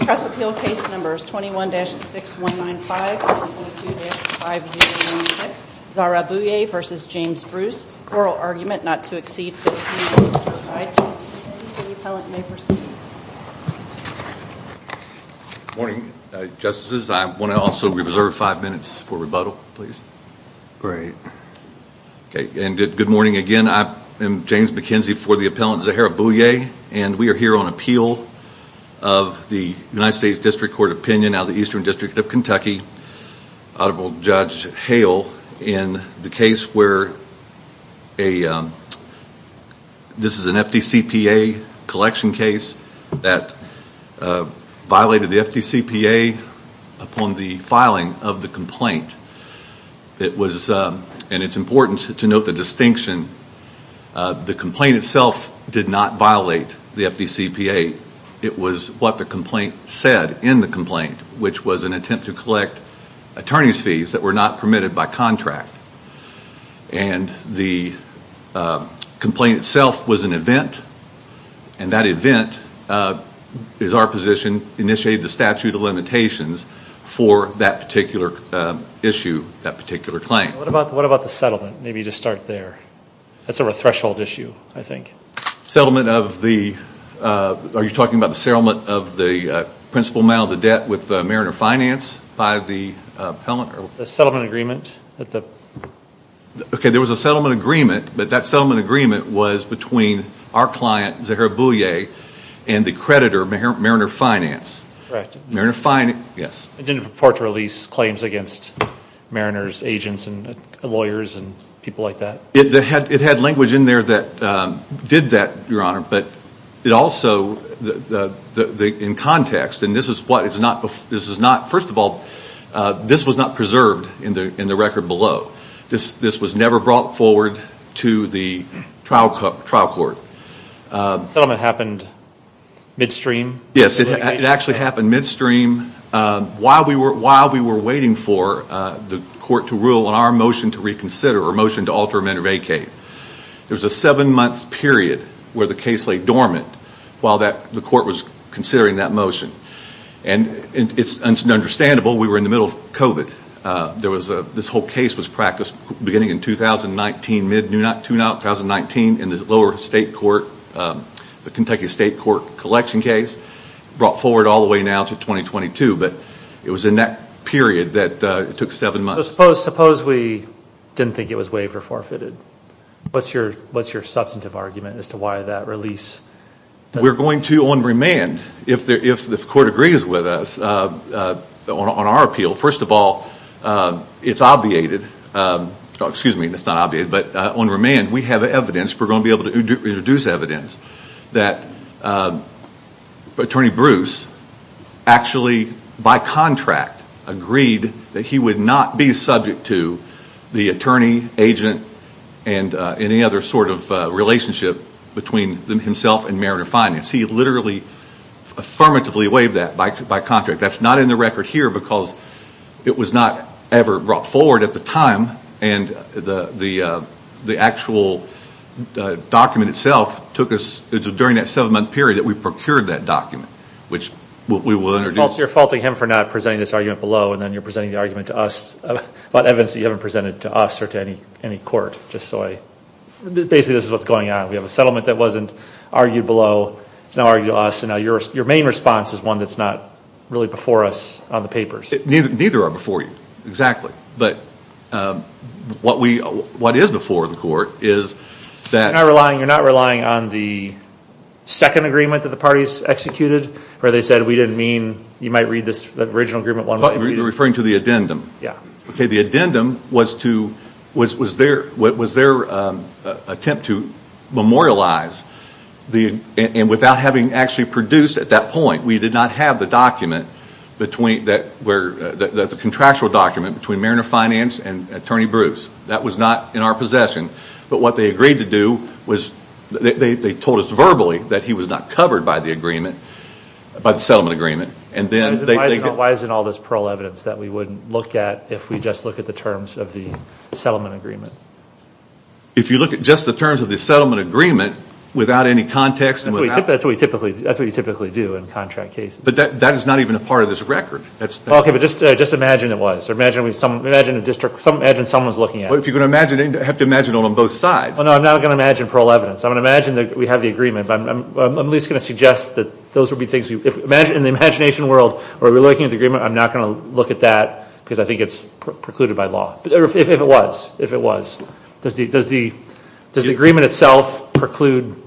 Press Appeal Case Numbers 21-6195 and 22-5096, Zahra Bouye v. James Bruce, Oral Argument Not to Exceed Fifteen Minutes. I, James McKenzie, and the Appellant, may proceed. Good morning, Justices. I want to also reserve five minutes for rebuttal, please. Great. Okay, and good morning again. I am James McKenzie for the Appellant, Zahra Bouye, and we are here on appeal of the United States District Court Opinion out of the Eastern District of Kentucky, Audible Judge Hale, in the case where this is an FDCPA collection case that violated the FDCPA upon the filing of the complaint. It was, and it's important to note the distinction, the complaint itself did not violate the FDCPA. It was what the complaint said in the complaint, which was an attempt to collect attorney's fees that were not permitted by contract. And the complaint itself was an event, and that event is our position, initiated the issue, that particular claim. What about the settlement? Maybe just start there. That's sort of a threshold issue, I think. Settlement of the, are you talking about the settlement of the principal amount of the debt with Mariner Finance by the Appellant? The settlement agreement that the... Okay, there was a settlement agreement, but that settlement agreement was between our client, Zahra Bouye, and the creditor, Mariner Finance. Correct. Mariner Finance, yes. It didn't purport to release claims against Mariner's agents and lawyers and people like that? It had language in there that did that, Your Honor, but it also, in context, and this is what, this is not, first of all, this was not preserved in the record below. This was never brought forward to the trial court. Settlement happened midstream? Yes. It actually happened midstream while we were waiting for the court to rule on our motion to reconsider, or motion to alter amendment of AK. There was a seven month period where the case lay dormant while the court was considering that motion. It's understandable, we were in the middle of COVID. This whole case was practiced beginning in 2019, mid-2019, in the lower state court, the Kentucky state court collection case, brought forward all the way now to 2022, but it was in that period that it took seven months. Suppose we didn't think it was waived or forfeited. What's your substantive argument as to why that release? We're going to, on remand, if the court agrees with us, on our appeal, first of all, it's obviated, excuse me, it's not obviated, but on remand, we have evidence, we're going to be able to introduce evidence that Attorney Bruce actually, by contract, agreed that he would not be subject to the attorney, agent, and any other sort of relationship between himself and Mariner Finance. He literally affirmatively waived that by contract. That's not in the record here because it was not ever brought forward at the time and the actual document itself took us, it was during that seven month period that we procured that document, which we will introduce. You're faulting him for not presenting this argument below and then you're presenting the argument to us about evidence that you haven't presented to us or to any court, just so I, basically this is what's going on. We have a settlement that wasn't argued below, it's now argued to us, and now your main response is one that's not really before us on the papers. Neither are before you, exactly. But what is before the court is that... You're not relying on the second agreement that the parties executed where they said we didn't mean, you might read this original agreement one way or the other. You're referring to the addendum. Yeah. Okay, the addendum was their attempt to memorialize, and without having actually produced at that attorney Bruce. That was not in our possession, but what they agreed to do was, they told us verbally that he was not covered by the agreement, by the settlement agreement, and then they... Why isn't all this parole evidence that we wouldn't look at if we just look at the terms of the settlement agreement? If you look at just the terms of the settlement agreement without any context... That's what you typically do in contract cases. But that is not even a part of this record. Okay, but just imagine it was, or imagine someone's looking at it. But if you're going to imagine it, you have to imagine it on both sides. Well, no, I'm not going to imagine parole evidence. I'm going to imagine that we have the agreement, but I'm at least going to suggest that those would be things you... In the imagination world, where we're looking at the agreement, I'm not going to look at that because I think it's precluded by law. If it was, if it was. Does the agreement itself preclude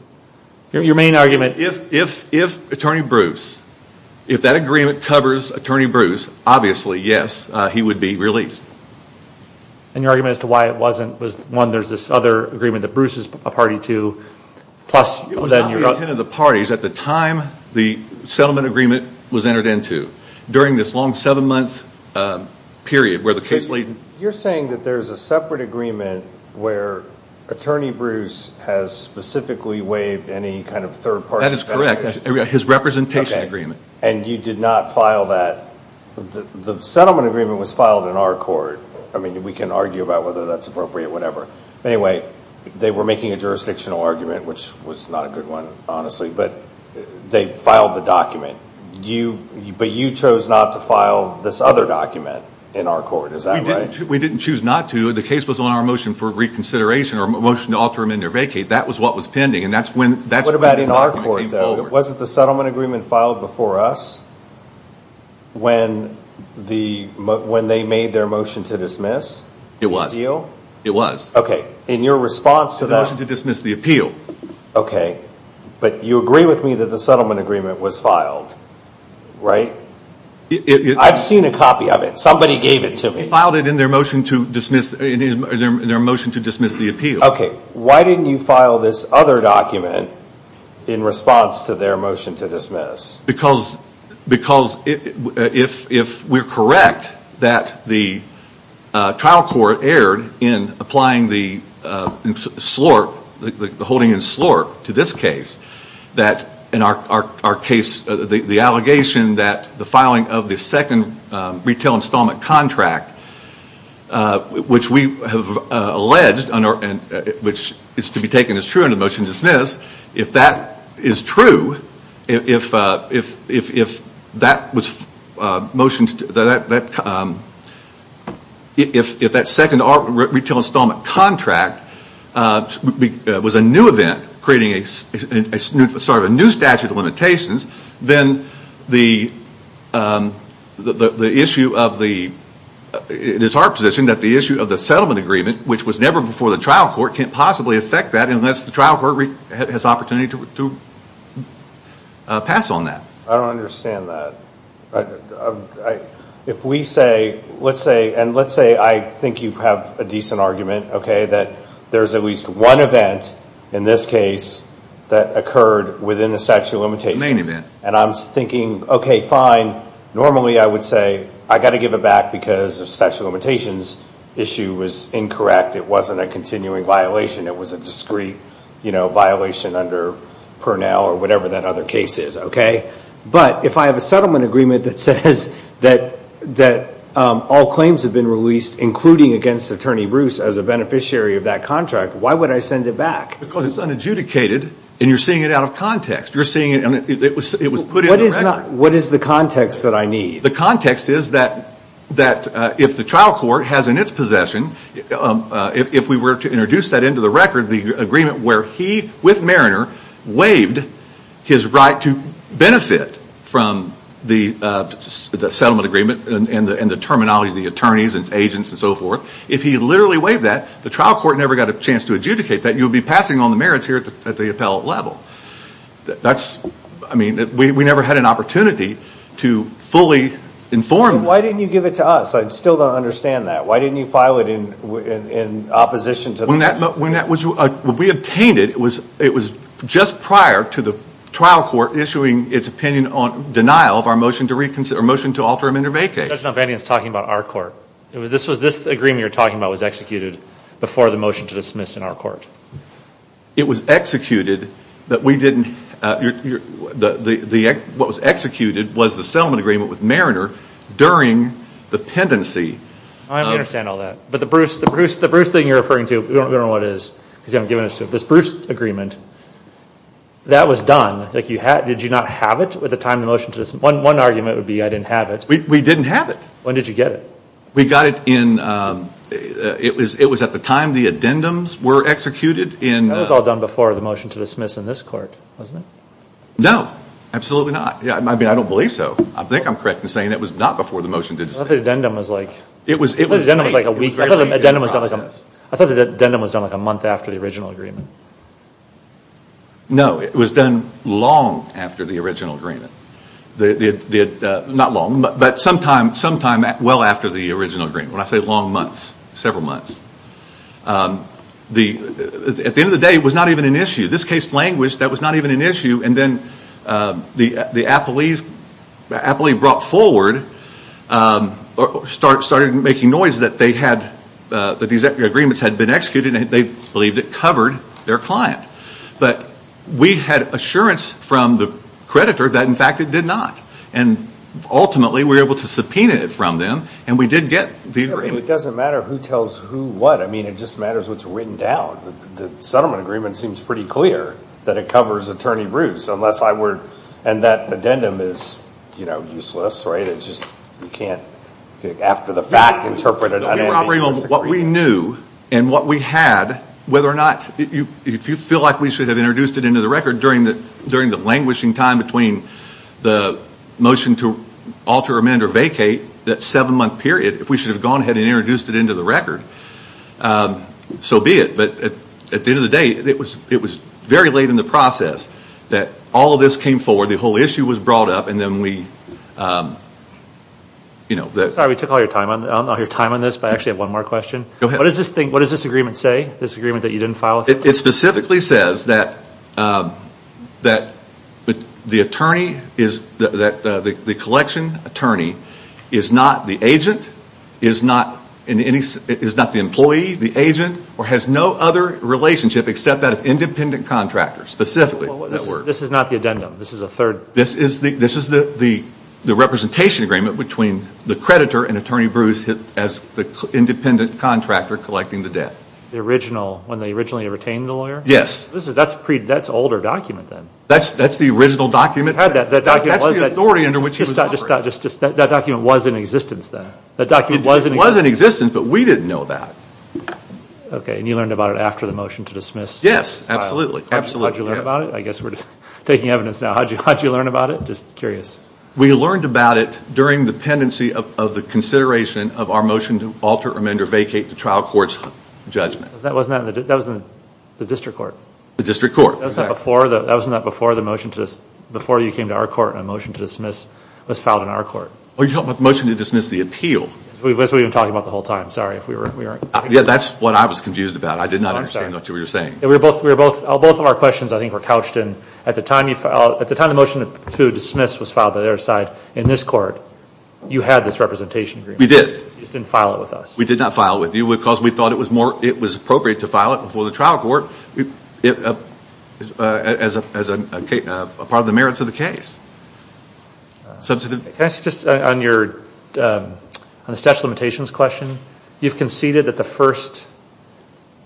your main argument? If Attorney Bruce, if that agreement covers Attorney Bruce, obviously, yes, he would be released. And your argument as to why it wasn't was, one, there's this other agreement that Bruce is a party to, plus... It was not the intent of the parties at the time the settlement agreement was entered into. During this long seven-month period where the case... You're saying that there's a separate agreement where Attorney Bruce has specifically waived any kind of third party... That is correct. His representation agreement. And you did not file that... The settlement agreement was filed in our court. We can argue about whether that's appropriate, whatever. Anyway, they were making a jurisdictional argument, which was not a good one, honestly, but they filed the document, but you chose not to file this other document in our court. Is that right? We didn't choose not to. The case was on our motion for reconsideration, our motion to alter him in their vacate. That was what was pending. And that's when... What about in our court, though? It wasn't the settlement agreement filed before us when they made their motion to dismiss? It was. The appeal? It was. Okay. In your response to that... To the motion to dismiss the appeal. Okay. But you agree with me that the settlement agreement was filed, right? I've seen a copy of it. Somebody gave it to me. They filed it in their motion to dismiss the appeal. Okay. Why didn't you file this other document in response to their motion to dismiss? Because if we're correct that the trial court erred in applying the holding in slurp to this case, that in our case, the allegation that the filing of the second retail installment contract, which we have alleged, which is to be taken as true in the motion to dismiss, if that is true, if that second retail installment contract was a new event, creating a new statute of limitations, then the issue of the... It is our position that the issue of the settlement agreement, which was never before the trial court, can't possibly affect that unless the trial court has opportunity to pass on that. I don't understand that. If we say, let's say, and let's say I think you have a decent argument, okay, that there's at least one event in this case that occurred within the statute of limitations, and I'm thinking, okay, fine, normally I would say I've got to give it back because the statute of limitations issue was incorrect. It wasn't a continuing violation. It was a discrete violation under Pernell or whatever that other case is, okay? But if I have a settlement agreement that says that all claims have been released, including against Attorney Bruce as a beneficiary of that contract, why would I send it back? Because it's unadjudicated, and you're seeing it out of context. You're seeing it, and it was put in the record. What is the context that I need? The context is that if the trial court has in its possession, if we were to introduce that into the record, the agreement where he, with Mariner, waived his right to benefit from the settlement agreement and the terminology of the attorneys and agents and so forth, if he literally waived that, the trial court never got a chance to adjudicate that. You would be passing on the merits here at the appellate level. That's, I mean, we never had an opportunity to fully inform. Why didn't you give it to us? I still don't understand that. Why didn't you file it in opposition to the... When that was, when we obtained it, it was just prior to the trial court issuing its opinion on denial of our motion to reconsider, our motion to alter amendment of vacay. Judge Nopanian is talking about our court. This agreement you're talking about was executed before the motion to dismiss in our court. It was executed, but we didn't, what was executed was the settlement agreement with Mariner during the pendency. I understand all that. But the Bruce thing you're referring to, we don't know what it is because you haven't given it to us. This Bruce agreement, that was done. Did you not have it at the time of the motion to dismiss? One argument would be I didn't have it. We didn't have it. When did you get it? We got it in, it was at the time the addendums were executed in... That was all done before the motion to dismiss in this court, wasn't it? No. Absolutely not. Yeah. I mean, I don't believe so. I think I'm correct in saying it was not before the motion to dismiss. I thought the addendum was like a week, I thought the addendum was done like a month after the original agreement. No, it was done long after the original agreement. Not long, but sometime well after the original agreement. When I say long months, several months. At the end of the day, it was not even an issue. This case languished, that was not even an issue. And then the appellee brought forward, started making noise that they had, that these agreements had been executed and they believed it covered their client. But we had assurance from the creditor that in fact it did not. And ultimately we were able to subpoena it from them and we did get the agreement. It doesn't matter who tells who what, I mean it just matters what's written down. The settlement agreement seems pretty clear that it covers attorney Bruce, unless I were, and that addendum is, you know, useless, right, it's just, you can't, after the fact, interpret it under any risk agreement. We were operating on what we knew and what we had, whether or not, if you feel like we should have introduced it into the record during the languishing time between the motion to alter, amend, or vacate, that seven month period, if we should have gone ahead and introduced it into the record, so be it. But at the end of the day, it was very late in the process that all of this came forward, the whole issue was brought up, and then we, you know, we took all your time on this, but I actually have one more question. Go ahead. What does this thing, what does this agreement say? This agreement that you didn't file? It specifically says that the attorney is, that the collection attorney is not the agent, is not the employee, the agent, or has no other relationship except that of independent contractor, specifically, that word. This is not the addendum, this is a third. This is the representation agreement between the creditor and Attorney Bruce as the independent contractor collecting the debt. The original, when they originally retained the lawyer? Yes. That's an older document then. That's the original document, that's the authority under which he was operating. That document was in existence then? That document was in existence, but we didn't know that. Okay, and you learned about it after the motion to dismiss? Yes, absolutely. How'd you learn about it? I guess we're taking evidence now. How'd you learn about it? Just curious. We learned about it during the pendency of the consideration of our motion to alter, amend, or vacate the trial court's judgment. That was in the district court? The district court. That was not before the motion to, before you came to our court and a motion to dismiss was filed in our court. Oh, you're talking about the motion to dismiss the appeal? That's what we've been talking about the whole time, sorry if we weren't... Yeah, that's what I was confused about. I did not understand what you were saying. Both of our questions, I think, were couched in, at the time the motion to dismiss was filed by their side in this court, you had this representation agreement. We did. You just didn't file it with us. We did not file it with you because we thought it was appropriate to file it before the trial court as a part of the merits of the case. Can I ask just on your, on the statute of limitations question, you've conceded that the first,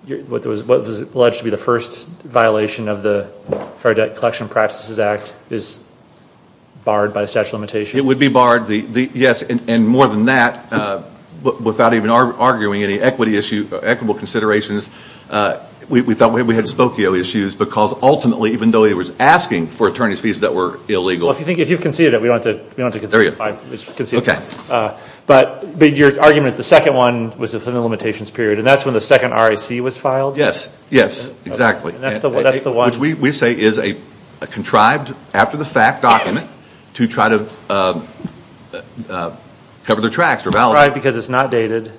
what was alleged to be the first violation of the Fair Debt Collection Practices Act is barred by the statute of limitations? It would be barred, yes, and more than that, without even arguing any equity issue, equitable we thought we had Spokio issues because ultimately, even though he was asking for attorney's fees that were illegal. Well, if you've conceded it, we don't have to concede it, but your argument is the second one was within the limitations period, and that's when the second RAC was filed? Yes, yes, exactly, which we say is a contrived, after-the-fact document to try to cover their tracks or validate. It's contrived because it's not dated,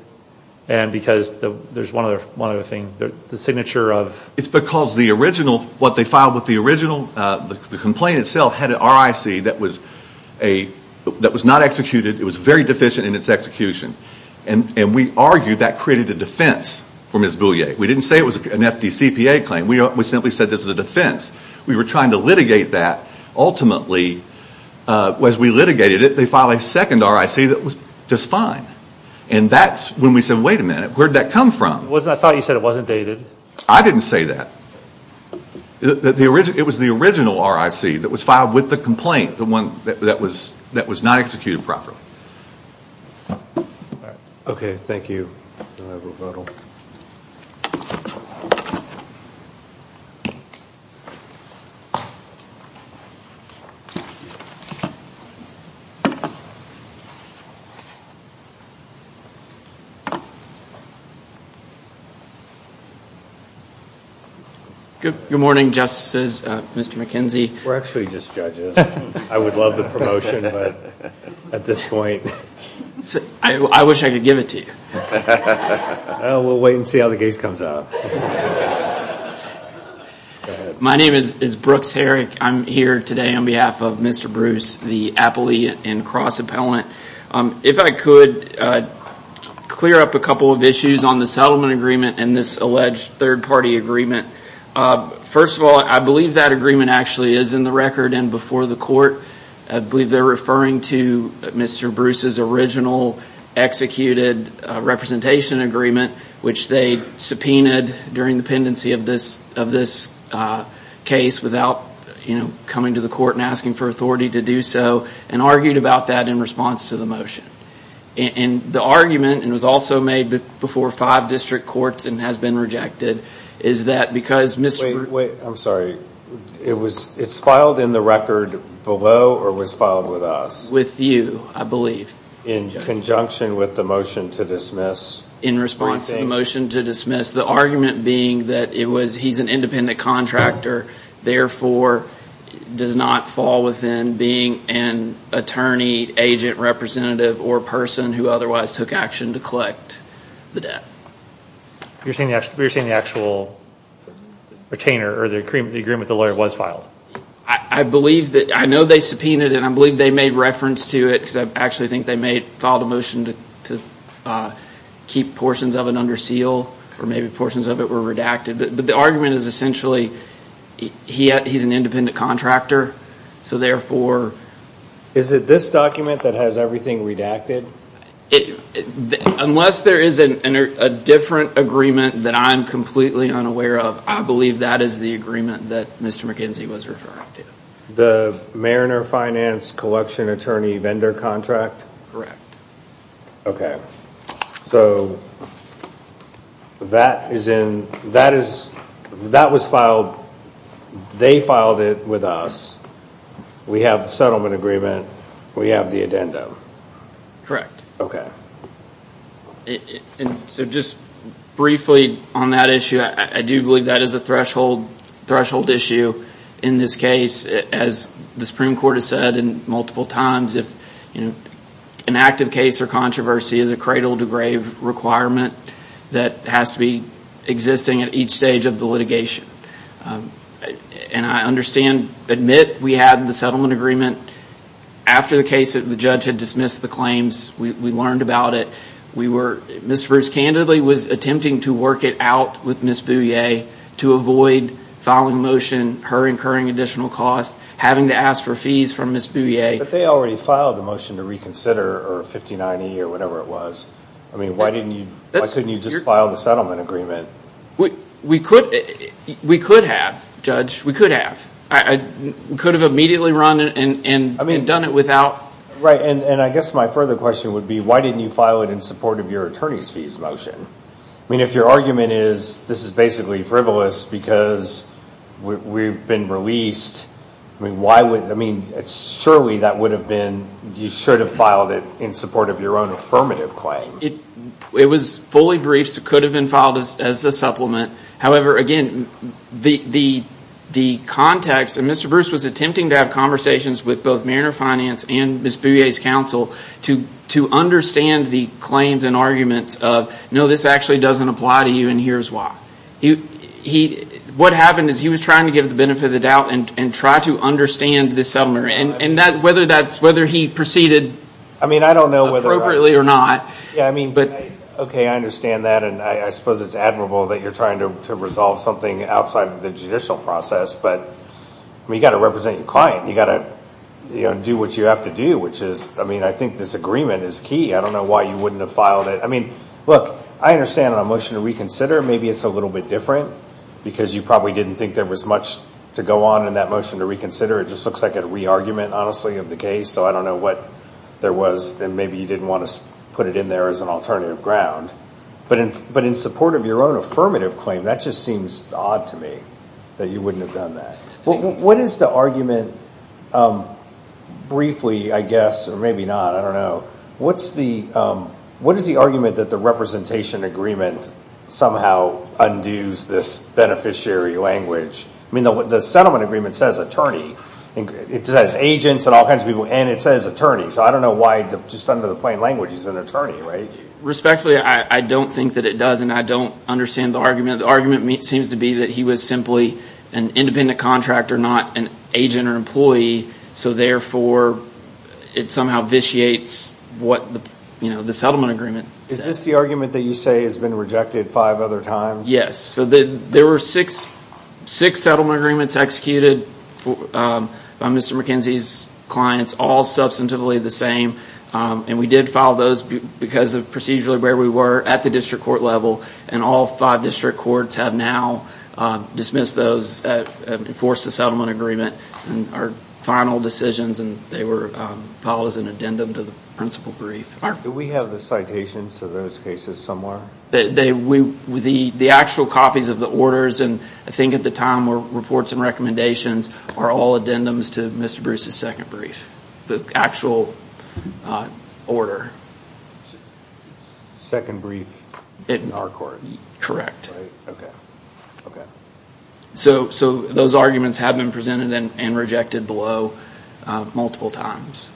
and because there's one other thing, the signature of... It's because the original, what they filed with the original, the complaint itself had an RIC that was not executed, it was very deficient in its execution, and we argued that created a defense for Ms. Boulier. We didn't say it was an FDCPA claim, we simply said this is a defense. We were trying to litigate that, ultimately, as we litigated it, they filed a second RIC that was just fine, and that's when we said, wait a minute, where did that come from? I thought you said it wasn't dated. I didn't say that. It was the original RIC that was filed with the complaint, the one that was not executed properly. Okay, thank you. Good morning, Justices, Mr. McKenzie. We're actually just judges. I would love the promotion, but at this point... I wish I could give it to you. We'll wait and see how the case comes out. My name is Brooks Herrick, I'm here today on behalf of Mr. Bruce, the appellee and cross-appellant. If I could clear up a couple of issues on the settlement agreement and this alleged third party agreement. First of all, I believe that agreement actually is in the record and before the court. I believe they're referring to Mr. Bruce's original executed representation agreement, which they subpoenaed during the pendency of this case without coming to the court and asking for authority to do so, and argued about that in response to the motion. The argument, and it was also made before five district courts and has been rejected, is that because Mr. Bruce... Wait, I'm sorry. It's filed in the record below or was filed with us? With you, I believe. In conjunction with the motion to dismiss. In response to the motion to dismiss. The argument being that he's an independent contractor, therefore does not fall within being an attorney, agent, representative, or person who otherwise took action to collect the debt. You're saying the actual retainer or the agreement with the lawyer was filed? I know they subpoenaed it and I believe they made reference to it, because I actually think they may have filed a motion to keep portions of it under seal, or maybe portions of it were redacted. But the argument is essentially he's an independent contractor, so therefore... Is it this document that has everything redacted? Unless there is a different agreement that I'm completely unaware of, I believe that is the agreement that Mr. McKenzie was referring to. The Mariner Finance Collection Attorney Vendor Contract? Correct. Okay. So, that is in... That was filed... They filed it with us. We have the settlement agreement. We have the addendum. Correct. Okay. So, just briefly on that issue, I do believe that is a threshold issue in this case. As the Supreme Court has said multiple times, an active case or controversy is a cradle to grave requirement that has to be existing at each stage of the litigation. And I understand, admit, we had the settlement agreement. After the case, the judge had dismissed the claims. We learned about it. Ms. Bruce candidly was attempting to work it out with Ms. Bouye to avoid filing a motion, her incurring additional costs, having to ask for fees from Ms. Bouye. But they already filed a motion to reconsider, or 59E, or whatever it was. I mean, why couldn't you just file the settlement agreement? We could have, Judge. We could have. I could have immediately run and done it without... Right. And I guess my further question would be, why didn't you file it in support of your attorney's fees motion? I mean, if your argument is, this is basically frivolous because we've been released, I mean, why would... I mean, surely that would have been... You should have filed it in support of your own affirmative claim. It was fully briefed. It could have been filed as a supplement. However, again, the context, and Mr. Bruce was attempting to have conversations with both Mariner Finance and Ms. Bouye's counsel to understand the claims and arguments of, no, this actually doesn't apply to you, and here's why. What happened is he was trying to give the benefit of the doubt and try to understand the settlement. And whether he proceeded appropriately or not... And I suppose it's admirable that you're trying to resolve something outside of the judicial process, but you've got to represent your client. You've got to do what you have to do, which is, I mean, I think this agreement is key. I don't know why you wouldn't have filed it. I mean, look, I understand on a motion to reconsider, maybe it's a little bit different because you probably didn't think there was much to go on in that motion to reconsider. It just looks like a re-argument, honestly, of the case. So I don't know what there was, and maybe you didn't want to put it in there as an alternative ground. But in support of your own affirmative claim, that just seems odd to me, that you wouldn't have done that. What is the argument, briefly, I guess, or maybe not, I don't know, what is the argument that the representation agreement somehow undoes this beneficiary language? I mean, the settlement agreement says attorney. It says agents and all kinds of people, and it says attorney. So I don't know why, just under the plain language, he's an attorney, right? Respectfully, I don't think that it does, and I don't understand the argument. The argument seems to be that he was simply an independent contractor, not an agent or employee, so therefore it somehow vitiates what the settlement agreement says. Is this the argument that you say has been rejected five other times? Yes. So there were six settlement agreements executed by Mr. McKenzie's clients, all substantively the same, and we did file those because of procedurally where we were at the district court level, and all five district courts have now dismissed those, enforced the settlement agreement, and our final decisions, and they were filed as an addendum to the principal brief. Do we have the citations of those cases somewhere? The actual copies of the orders, and I think at the time, reports and recommendations, are all addendums to Mr. Bruce's second brief. The actual order. Second brief in our court? Correct. So those arguments have been presented and rejected below multiple times.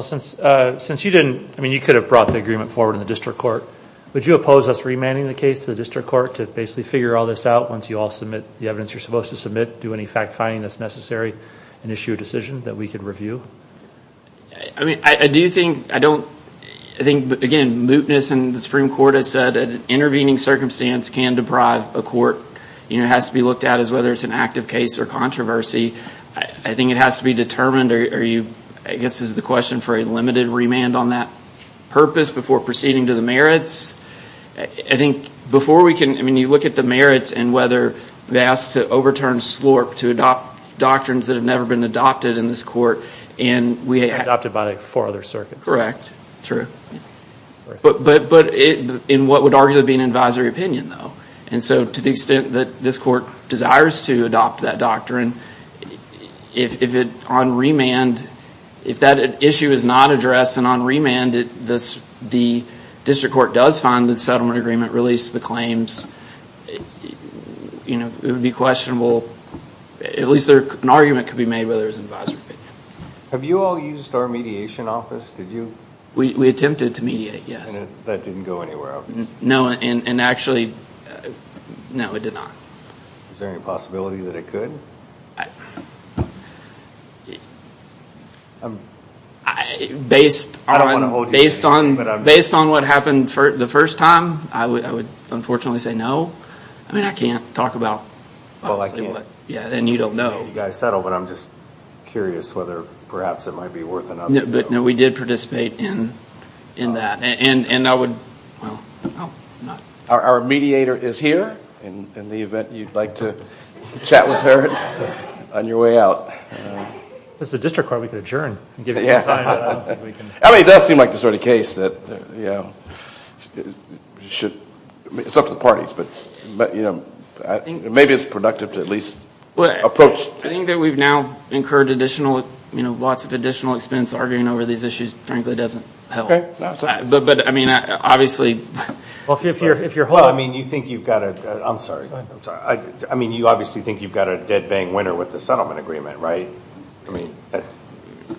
Since you didn't, I mean you could have brought the agreement forward in the district court, would you oppose us remanding the case to the district court to basically figure all this out once you all submit the evidence you're supposed to submit, do any fact-finding that's necessary and issue a decision that we could review? I do think, I don't, I think again, mootness in the Supreme Court has said an intervening circumstance can deprive a court, it has to be looked at as whether it's an active case or controversy. I think it has to be determined, I guess this is the question, for a limited remand on that purpose before proceeding to the merits. I think before we can, I mean you look at the merits and whether they asked to overturn SLORP, to adopt doctrines that have never been adopted in this court, and we have. Adopted by four other circuits. Correct, true. But in what would arguably be an advisory opinion though, and so to the extent that this court desires to adopt that doctrine, if it, on remand, if that issue is not addressed and on remand the district court does find that the settlement agreement released the At least an argument could be made whether it's an advisory opinion. Have you all used our mediation office? Did you? We attempted to mediate, yes. That didn't go anywhere, obviously. No, and actually, no it did not. Is there any possibility that it could? Based on what happened the first time, I would unfortunately say no, I mean I can't talk about, yeah, and you don't know. You guys settle, but I'm just curious whether perhaps it might be worth it. But no, we did participate in that, and I would, well, no. Our mediator is here, in the event you'd like to chat with her on your way out. As a district court we could adjourn. I mean it does seem like the sort of case that, you know, should, it's up to the parties, but, you know, maybe it's productive to at least approach. I think that we've now incurred additional, you know, lots of additional expense arguing over these issues frankly doesn't help. But I mean, obviously, Well, I mean, you think you've got a, I'm sorry, I'm sorry, I mean you obviously think you've got a dead-bang winner with the settlement agreement, right? I mean,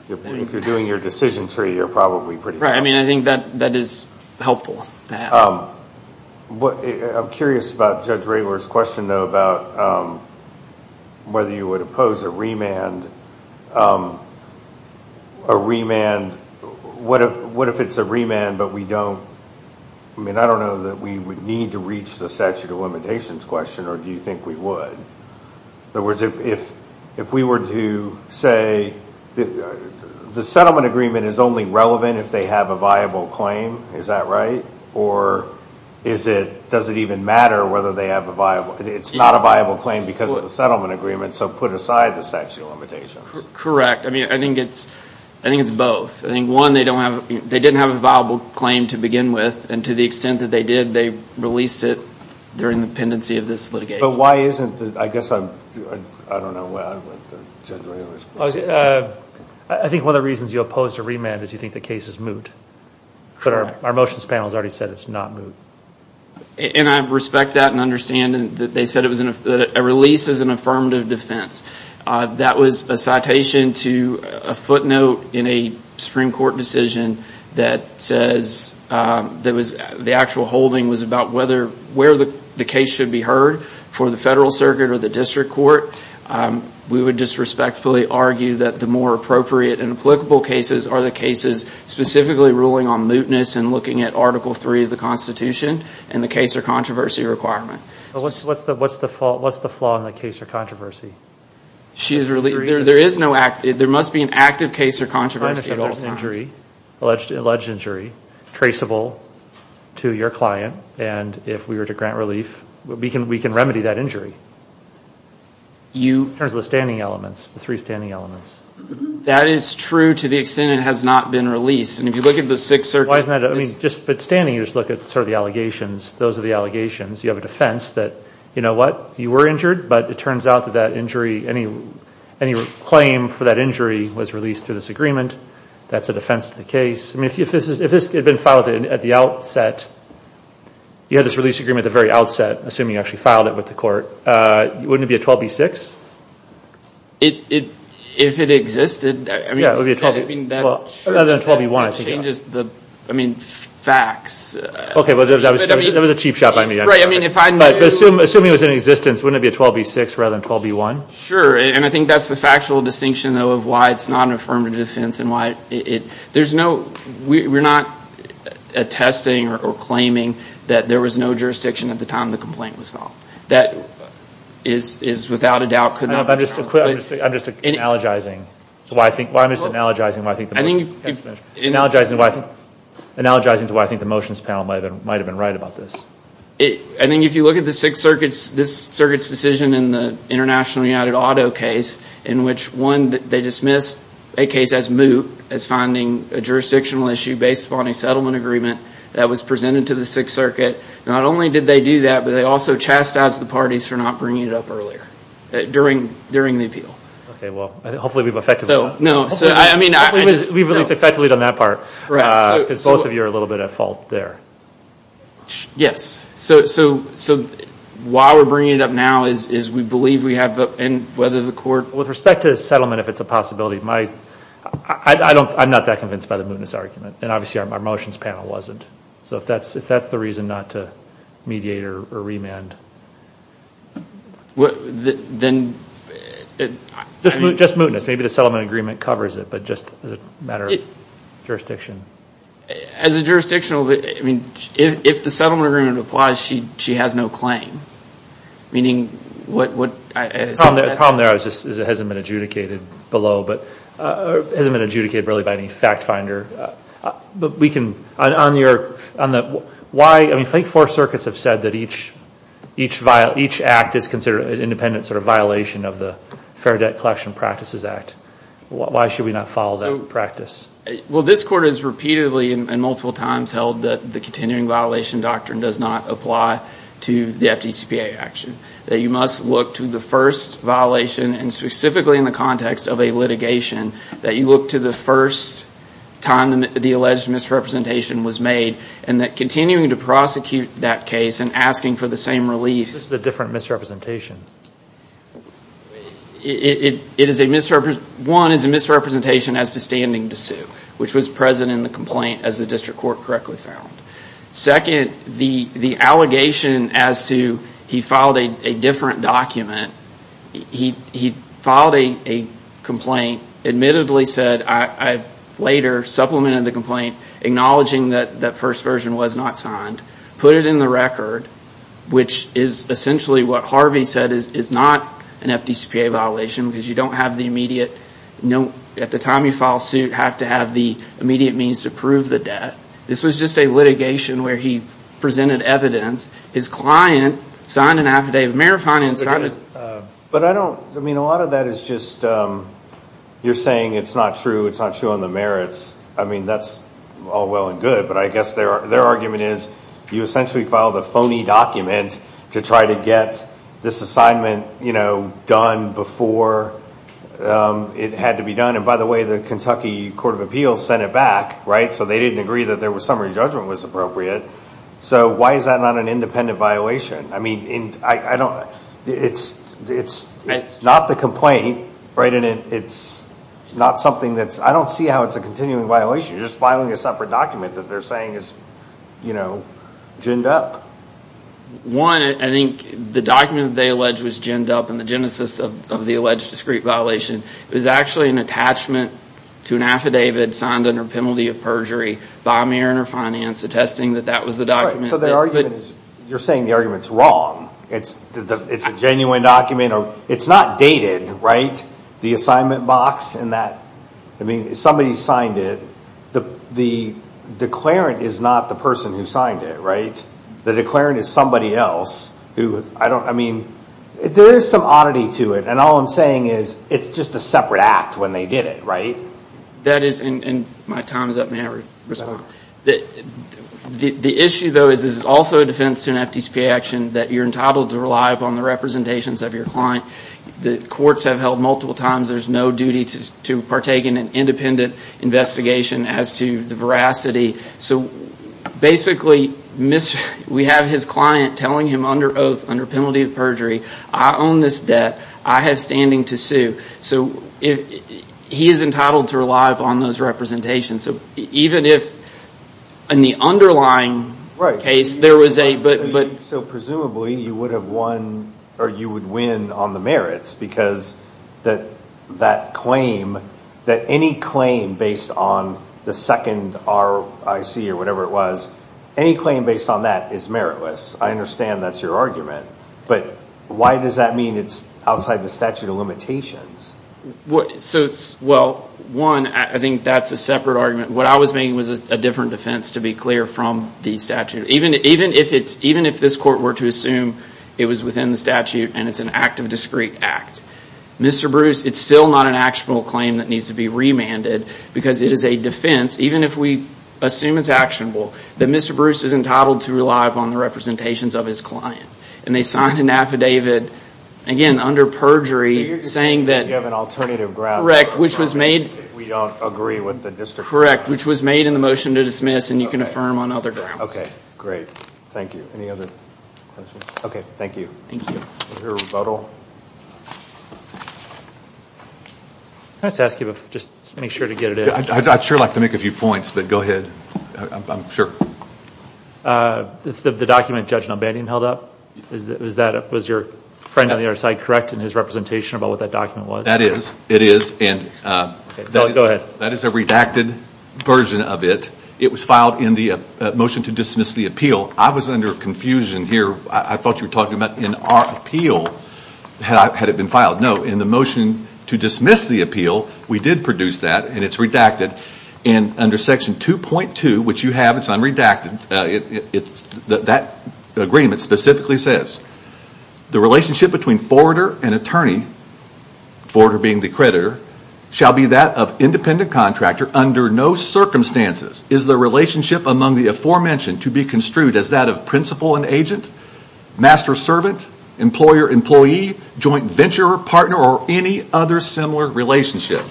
if you're doing your decision tree, you're probably pretty. Right, I mean, I think that is helpful to have. I'm curious about Judge Raylor's question, though, about whether you would oppose a remand. A remand, what if it's a remand, but we don't, I mean, I don't know that we would need to reach the statute of limitations question, or do you think we would? In other words, if we were to say the settlement agreement is only relevant if they have a viable claim, or is it, does it even matter whether they have a viable, it's not a viable claim because of the settlement agreement, so put aside the statute of limitations. Correct. I mean, I think it's both. I think, one, they don't have, they didn't have a viable claim to begin with, and to the extent that they did, they released it during the pendency of this litigation. But why isn't the, I guess I'm, I don't know, Judge Raylor's question. I think one of the reasons you oppose a remand is you think the case is moot, but our motions panel has already said it's not moot. And I respect that and understand that they said it was, a release is an affirmative defense. That was a citation to a footnote in a Supreme Court decision that says, that was, the actual holding was about whether, where the case should be heard for the federal circuit or the district court. We would disrespectfully argue that the more appropriate and applicable cases are the cases specifically ruling on mootness and looking at Article III of the Constitution and the case or controversy requirement. What's the flaw in the case or controversy? She is relieved. There is no active, there must be an active case or controversy at all times. But if there's an injury, alleged injury, traceable to your client, and if we were to grant relief, we can remedy that injury in terms of the standing elements, the three standing elements. That is true to the extent it has not been released. And if you look at the six circuits. Why isn't that, I mean, just with standing, you just look at sort of the allegations. Those are the allegations. You have a defense that, you know what, you were injured, but it turns out that that injury, any claim for that injury was released through this agreement. That's a defense of the case. I mean, if this had been filed at the outset, you had this release agreement at the very outset, assuming you actually filed it with the court, wouldn't it be a 12B6? If it existed, I mean, rather than a 12B1, I think that changes the, I mean, facts. Okay, well, that was a cheap shot by me. Right. I mean, if I knew. Assuming it was in existence, wouldn't it be a 12B6 rather than 12B1? Sure. And I think that's the factual distinction, though, of why it's not an affirmative defense and why it, there's no, we're not attesting or claiming that there was no jurisdiction at the time the complaint was filed. That is without a doubt could not be true. I'm just, I'm just analogizing to why I think, I'm just analogizing to why I think the motions panel might have been right about this. I think if you look at the Sixth Circuit's, this Circuit's decision in the International United Auto case, in which one, they dismissed a case as moot, as finding a jurisdictional issue based upon a settlement agreement that was presented to the Sixth Circuit, not only did they do that, but they also chastised the parties for not bringing it up earlier, during the appeal. Okay. Well, hopefully we've effectively done that. No. So, I mean, I just, no. We've at least effectively done that part. Right. Because both of you are a little bit at fault there. Yes. So, why we're bringing it up now is we believe we have, and whether the court. With respect to the settlement, if it's a possibility, my, I don't, I'm not that convinced by the mootness argument. And obviously, our motions panel wasn't. So, if that's the reason not to mediate or remand. Then, I mean. Just mootness. Maybe the settlement agreement covers it. But just as a matter of jurisdiction. As a jurisdictional, I mean, if the settlement agreement applies, she has no claim. Meaning what. The problem there is it hasn't been adjudicated below, but hasn't been adjudicated really by any fact finder. But we can. On your. Why. I mean, I think four circuits have said that each act is considered an independent sort of violation of the Fair Debt Collection Practices Act. Why should we not follow that practice? Well, this court has repeatedly and multiple times held that the continuing violation doctrine does not apply to the FDCPA action. That you must look to the first violation and specifically in the context of a litigation. That you look to the first time the alleged misrepresentation was made. And that continuing to prosecute that case and asking for the same reliefs. This is a different misrepresentation. It is a misrepresentation. One is a misrepresentation as to standing to sue. Which was present in the complaint as the district court correctly found. Second, the allegation as to he filed a different document. He filed a complaint, admittedly said, I later supplemented the complaint, acknowledging that that first version was not signed, put it in the record, which is essentially what Harvey said is not an FDCPA violation because you don't have the immediate, at the time you file suit, have to have the immediate means to prove the debt. This was just a litigation where he presented evidence. His client signed an affidavit of merit. But I don't, I mean a lot of that is just, you're saying it's not true, it's not true on the merits. I mean that's all well and good, but I guess their argument is you essentially filed a phony document to try to get this assignment, you know, done before it had to be done. And by the way, the Kentucky Court of Appeals sent it back, right, so they didn't agree that their summary judgment was appropriate. So why is that not an independent violation? I mean, I don't, it's not the complaint, right, and it's not something that's, I don't see how it's a continuing violation, you're just filing a separate document that they're saying is, you know, ginned up. One, I think the document they allege was ginned up in the genesis of the alleged discreet violation. It was actually an attachment to an affidavit signed under penalty of perjury by a mayor under finance attesting that that was the document. So their argument is, you're saying the argument's wrong. It's a genuine document, it's not dated, right, the assignment box and that, I mean, somebody signed it, the declarant is not the person who signed it, right? The declarant is somebody else who, I don't, I mean, there is some oddity to it, and all I'm saying is it's just a separate act when they did it, right? That is, and my time is up, may I respond? The issue, though, is this is also a defense to an FDCPA action that you're entitled to rely upon the representations of your client. The courts have held multiple times there's no duty to partake in an independent investigation as to the veracity. So basically, we have his client telling him under oath, under penalty of perjury, I own this debt, I have standing to sue. So he is entitled to rely upon those representations. So even if, in the underlying case, there was a, but... So presumably, you would have won, or you would win on the merits, because that claim, that any claim based on the second RIC or whatever it was, any claim based on that is meritless. I understand that's your argument, but why does that mean it's outside the statute of limitations? So, well, one, I think that's a separate argument. What I was making was a different defense, to be clear, from the statute. Even if this court were to assume it was within the statute and it's an act of discreet act, Mr. Bruce, it's still not an actionable claim that needs to be remanded, because it is a defense, even if we assume it's actionable, that Mr. Bruce is entitled to rely upon the representations of his client, and they signed an affidavit, again, under perjury, saying that... You have an alternative ground. Correct. Which was made... If we don't agree with the district... Correct. Which was made in the motion to dismiss, and you can affirm on other grounds. Okay. Great. Thank you. Any other questions? Okay. Thank you. Thank you. Mr. Rebuttal? Can I just ask you, just to make sure to get it in? I'd sure like to make a few points, but go ahead. I'm sure. The document Judge Numbanian held up, was that, was your friend on the other side correct in his representation about what that document was? That is. It is. Go ahead. That is a redacted version of it. It was filed in the motion to dismiss the appeal. I was under confusion here. I thought you were talking about in our appeal, had it been filed. No. In the motion to dismiss the appeal, we did produce that, and it's redacted. Under section 2.2, which you have, it's unredacted, that agreement specifically says, the relationship between forwarder and attorney, forwarder being the creditor, shall be that of independent contractor under no circumstances is the relationship among the aforementioned to be construed as that of principal and agent, master servant, employer-employee, joint venturer-partner or any other similar relationship.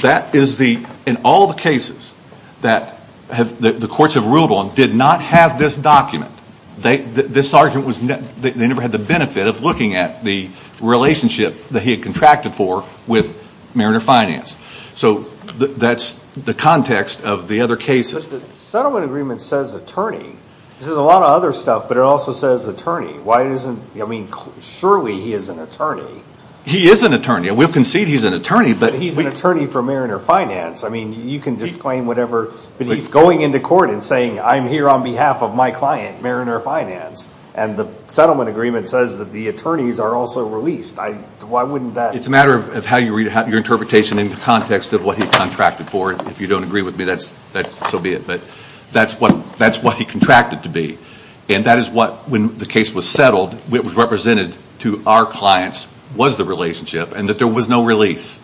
That is the, in all the cases that the courts have ruled on, did not have this document. They, this argument was, they never had the benefit of looking at the relationship that he had contracted for with Mariner Finance. So that's the context of the other cases. But the settlement agreement says attorney, this is a lot of other stuff, but it also says attorney. Why isn't, I mean, surely he is an attorney. He is an attorney. We'll concede he's an attorney, but he's an attorney for Mariner Finance. I mean, you can disclaim whatever, but he's going into court and saying, I'm here on behalf of my client, Mariner Finance, and the settlement agreement says that the attorneys are also released. I, why wouldn't that? It's a matter of how you read, your interpretation in the context of what he contracted for. If you don't agree with me, that's, so be it, but that's what, that's what he contracted to be. And that is what, when the case was settled, it was represented to our clients was the relationship and that there was no release.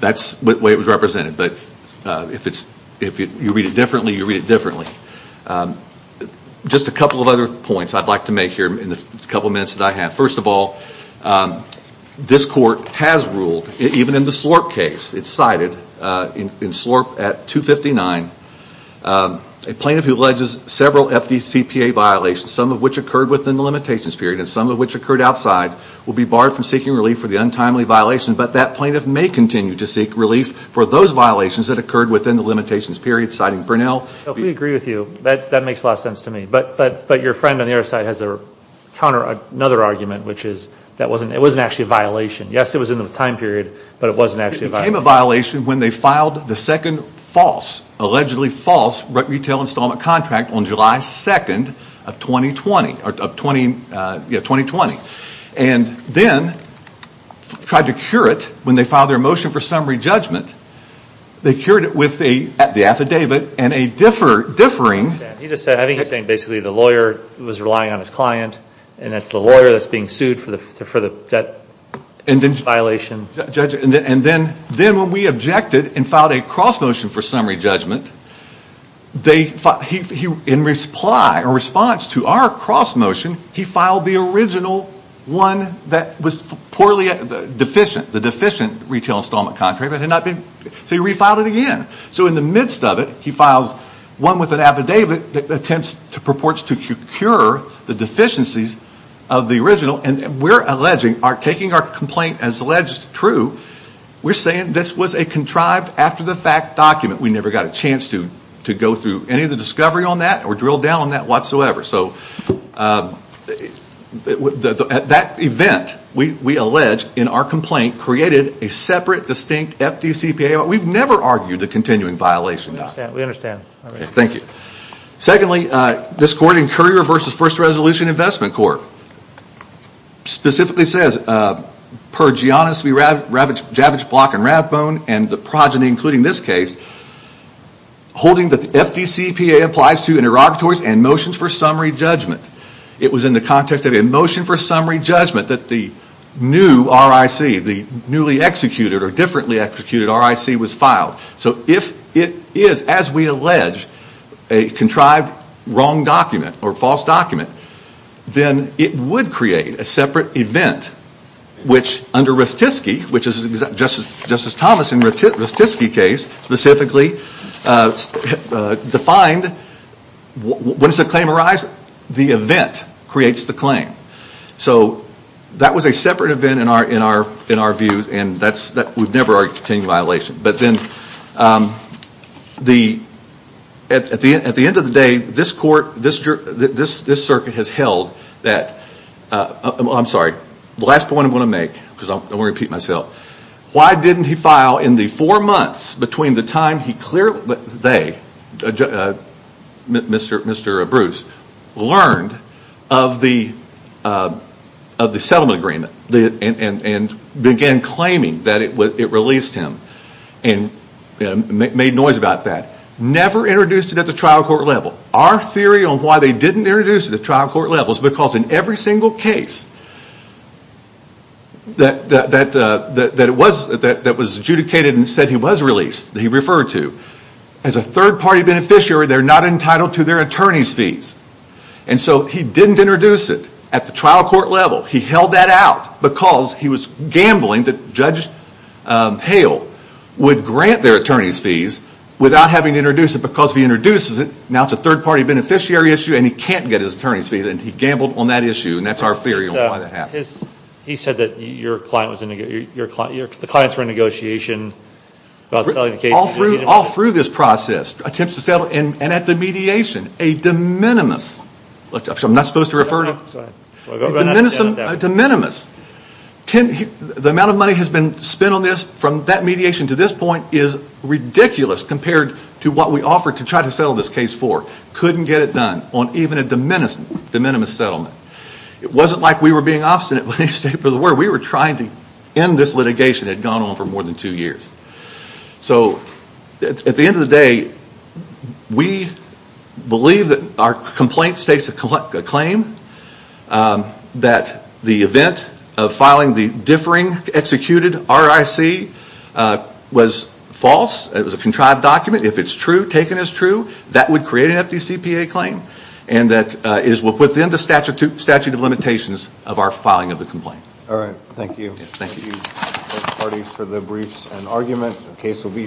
That's the way it was represented, but if you read it differently, you read it differently. Just a couple of other points I'd like to make here in the couple minutes that I have. First of all, this court has ruled, even in the Slorp case, it's cited in Slorp at 259, a plaintiff who alleges several FDCPA violations, some of which occurred within the limitations period and some of which occurred outside, will be barred from seeking relief for the untimely violation. But that plaintiff may continue to seek relief for those violations that occurred within the limitations period, citing Brunel. So if we agree with you, that makes a lot of sense to me. But your friend on the other side has a counter, another argument, which is that it wasn't actually a violation. Yes, it was in the time period, but it wasn't actually a violation. It became a violation when they filed the second false, allegedly false, retail installment contract on July 2nd of 2020. And then tried to cure it when they filed their motion for summary judgment, they cured it with the affidavit and a differing... He just said, I think he's saying basically the lawyer was relying on his client and that's the lawyer that's being sued for that violation. And then when we objected and filed a cross motion for summary judgment, in response to our cross motion, he filed the original one that was poorly deficient, the deficient retail installment contract. So he refiled it again. So in the midst of it, he files one with an affidavit that purports to cure the deficiencies of the original. And we're alleging, taking our complaint as alleged true, we're saying this was a contrived after the fact document. We never got a chance to go through any of the discovery on that or drill down on that whatsoever. So at that event, we allege in our complaint, created a separate, distinct FDCPA. We've never argued the continuing violation document. We understand. Thank you. Secondly, this court in Courier v. First Resolution Investment Court, specifically says per Giannis v. Javich, Block and Rathbone and the progeny including this case, holding that the FDCPA applies to interrogatories and motions for summary judgment. It was in the context of a motion for summary judgment that the new RIC, the newly executed or differently executed RIC was filed. So if it is, as we allege, a contrived wrong document or false document, then it would create a separate event, which under Rastisky, which is Justice Thomas in the Rastisky case specifically, defined, when does the claim arise? The event creates the claim. So that was a separate event in our views and we've never argued the continuing violation. But then at the end of the day, this court, this circuit has held that, I'm sorry, the last point I'm going to make, because I'm going to repeat myself. Why didn't he file in the four months between the time they, Mr. Bruce, learned of the settlement agreement and began claiming that it released him and made noise about that? Never introduced it at the trial court level. Our theory on why they didn't introduce it at the trial court level is because in every that was adjudicated and said he was released, that he referred to, as a third party beneficiary, they're not entitled to their attorney's fees. And so he didn't introduce it at the trial court level. He held that out because he was gambling that Judge Hale would grant their attorney's fees without having to introduce it because if he introduces it, now it's a third party beneficiary issue and he can't get his attorney's fees and he gambled on that issue and that's our theory on why that happened. He said that the clients were in negotiation. All through this process, attempts to settle, and at the mediation, a de minimis, the amount of money has been spent on this from that mediation to this point is ridiculous compared to what we offered to try to settle this case for. Couldn't get it done on even a de minimis settlement. It wasn't like we were being obstinate. We were trying to end this litigation that had gone on for more than two years. So at the end of the day, we believe that our complaint states a claim that the event of filing the differing executed RIC was false, it was a contrived document. If it's true, taken as true, that would create an FDCPA claim and that is within the statute of limitations of our filing of the complaint. Alright, thank you. Thank you. Thank you both parties for the briefs and argument. The case will be submitted.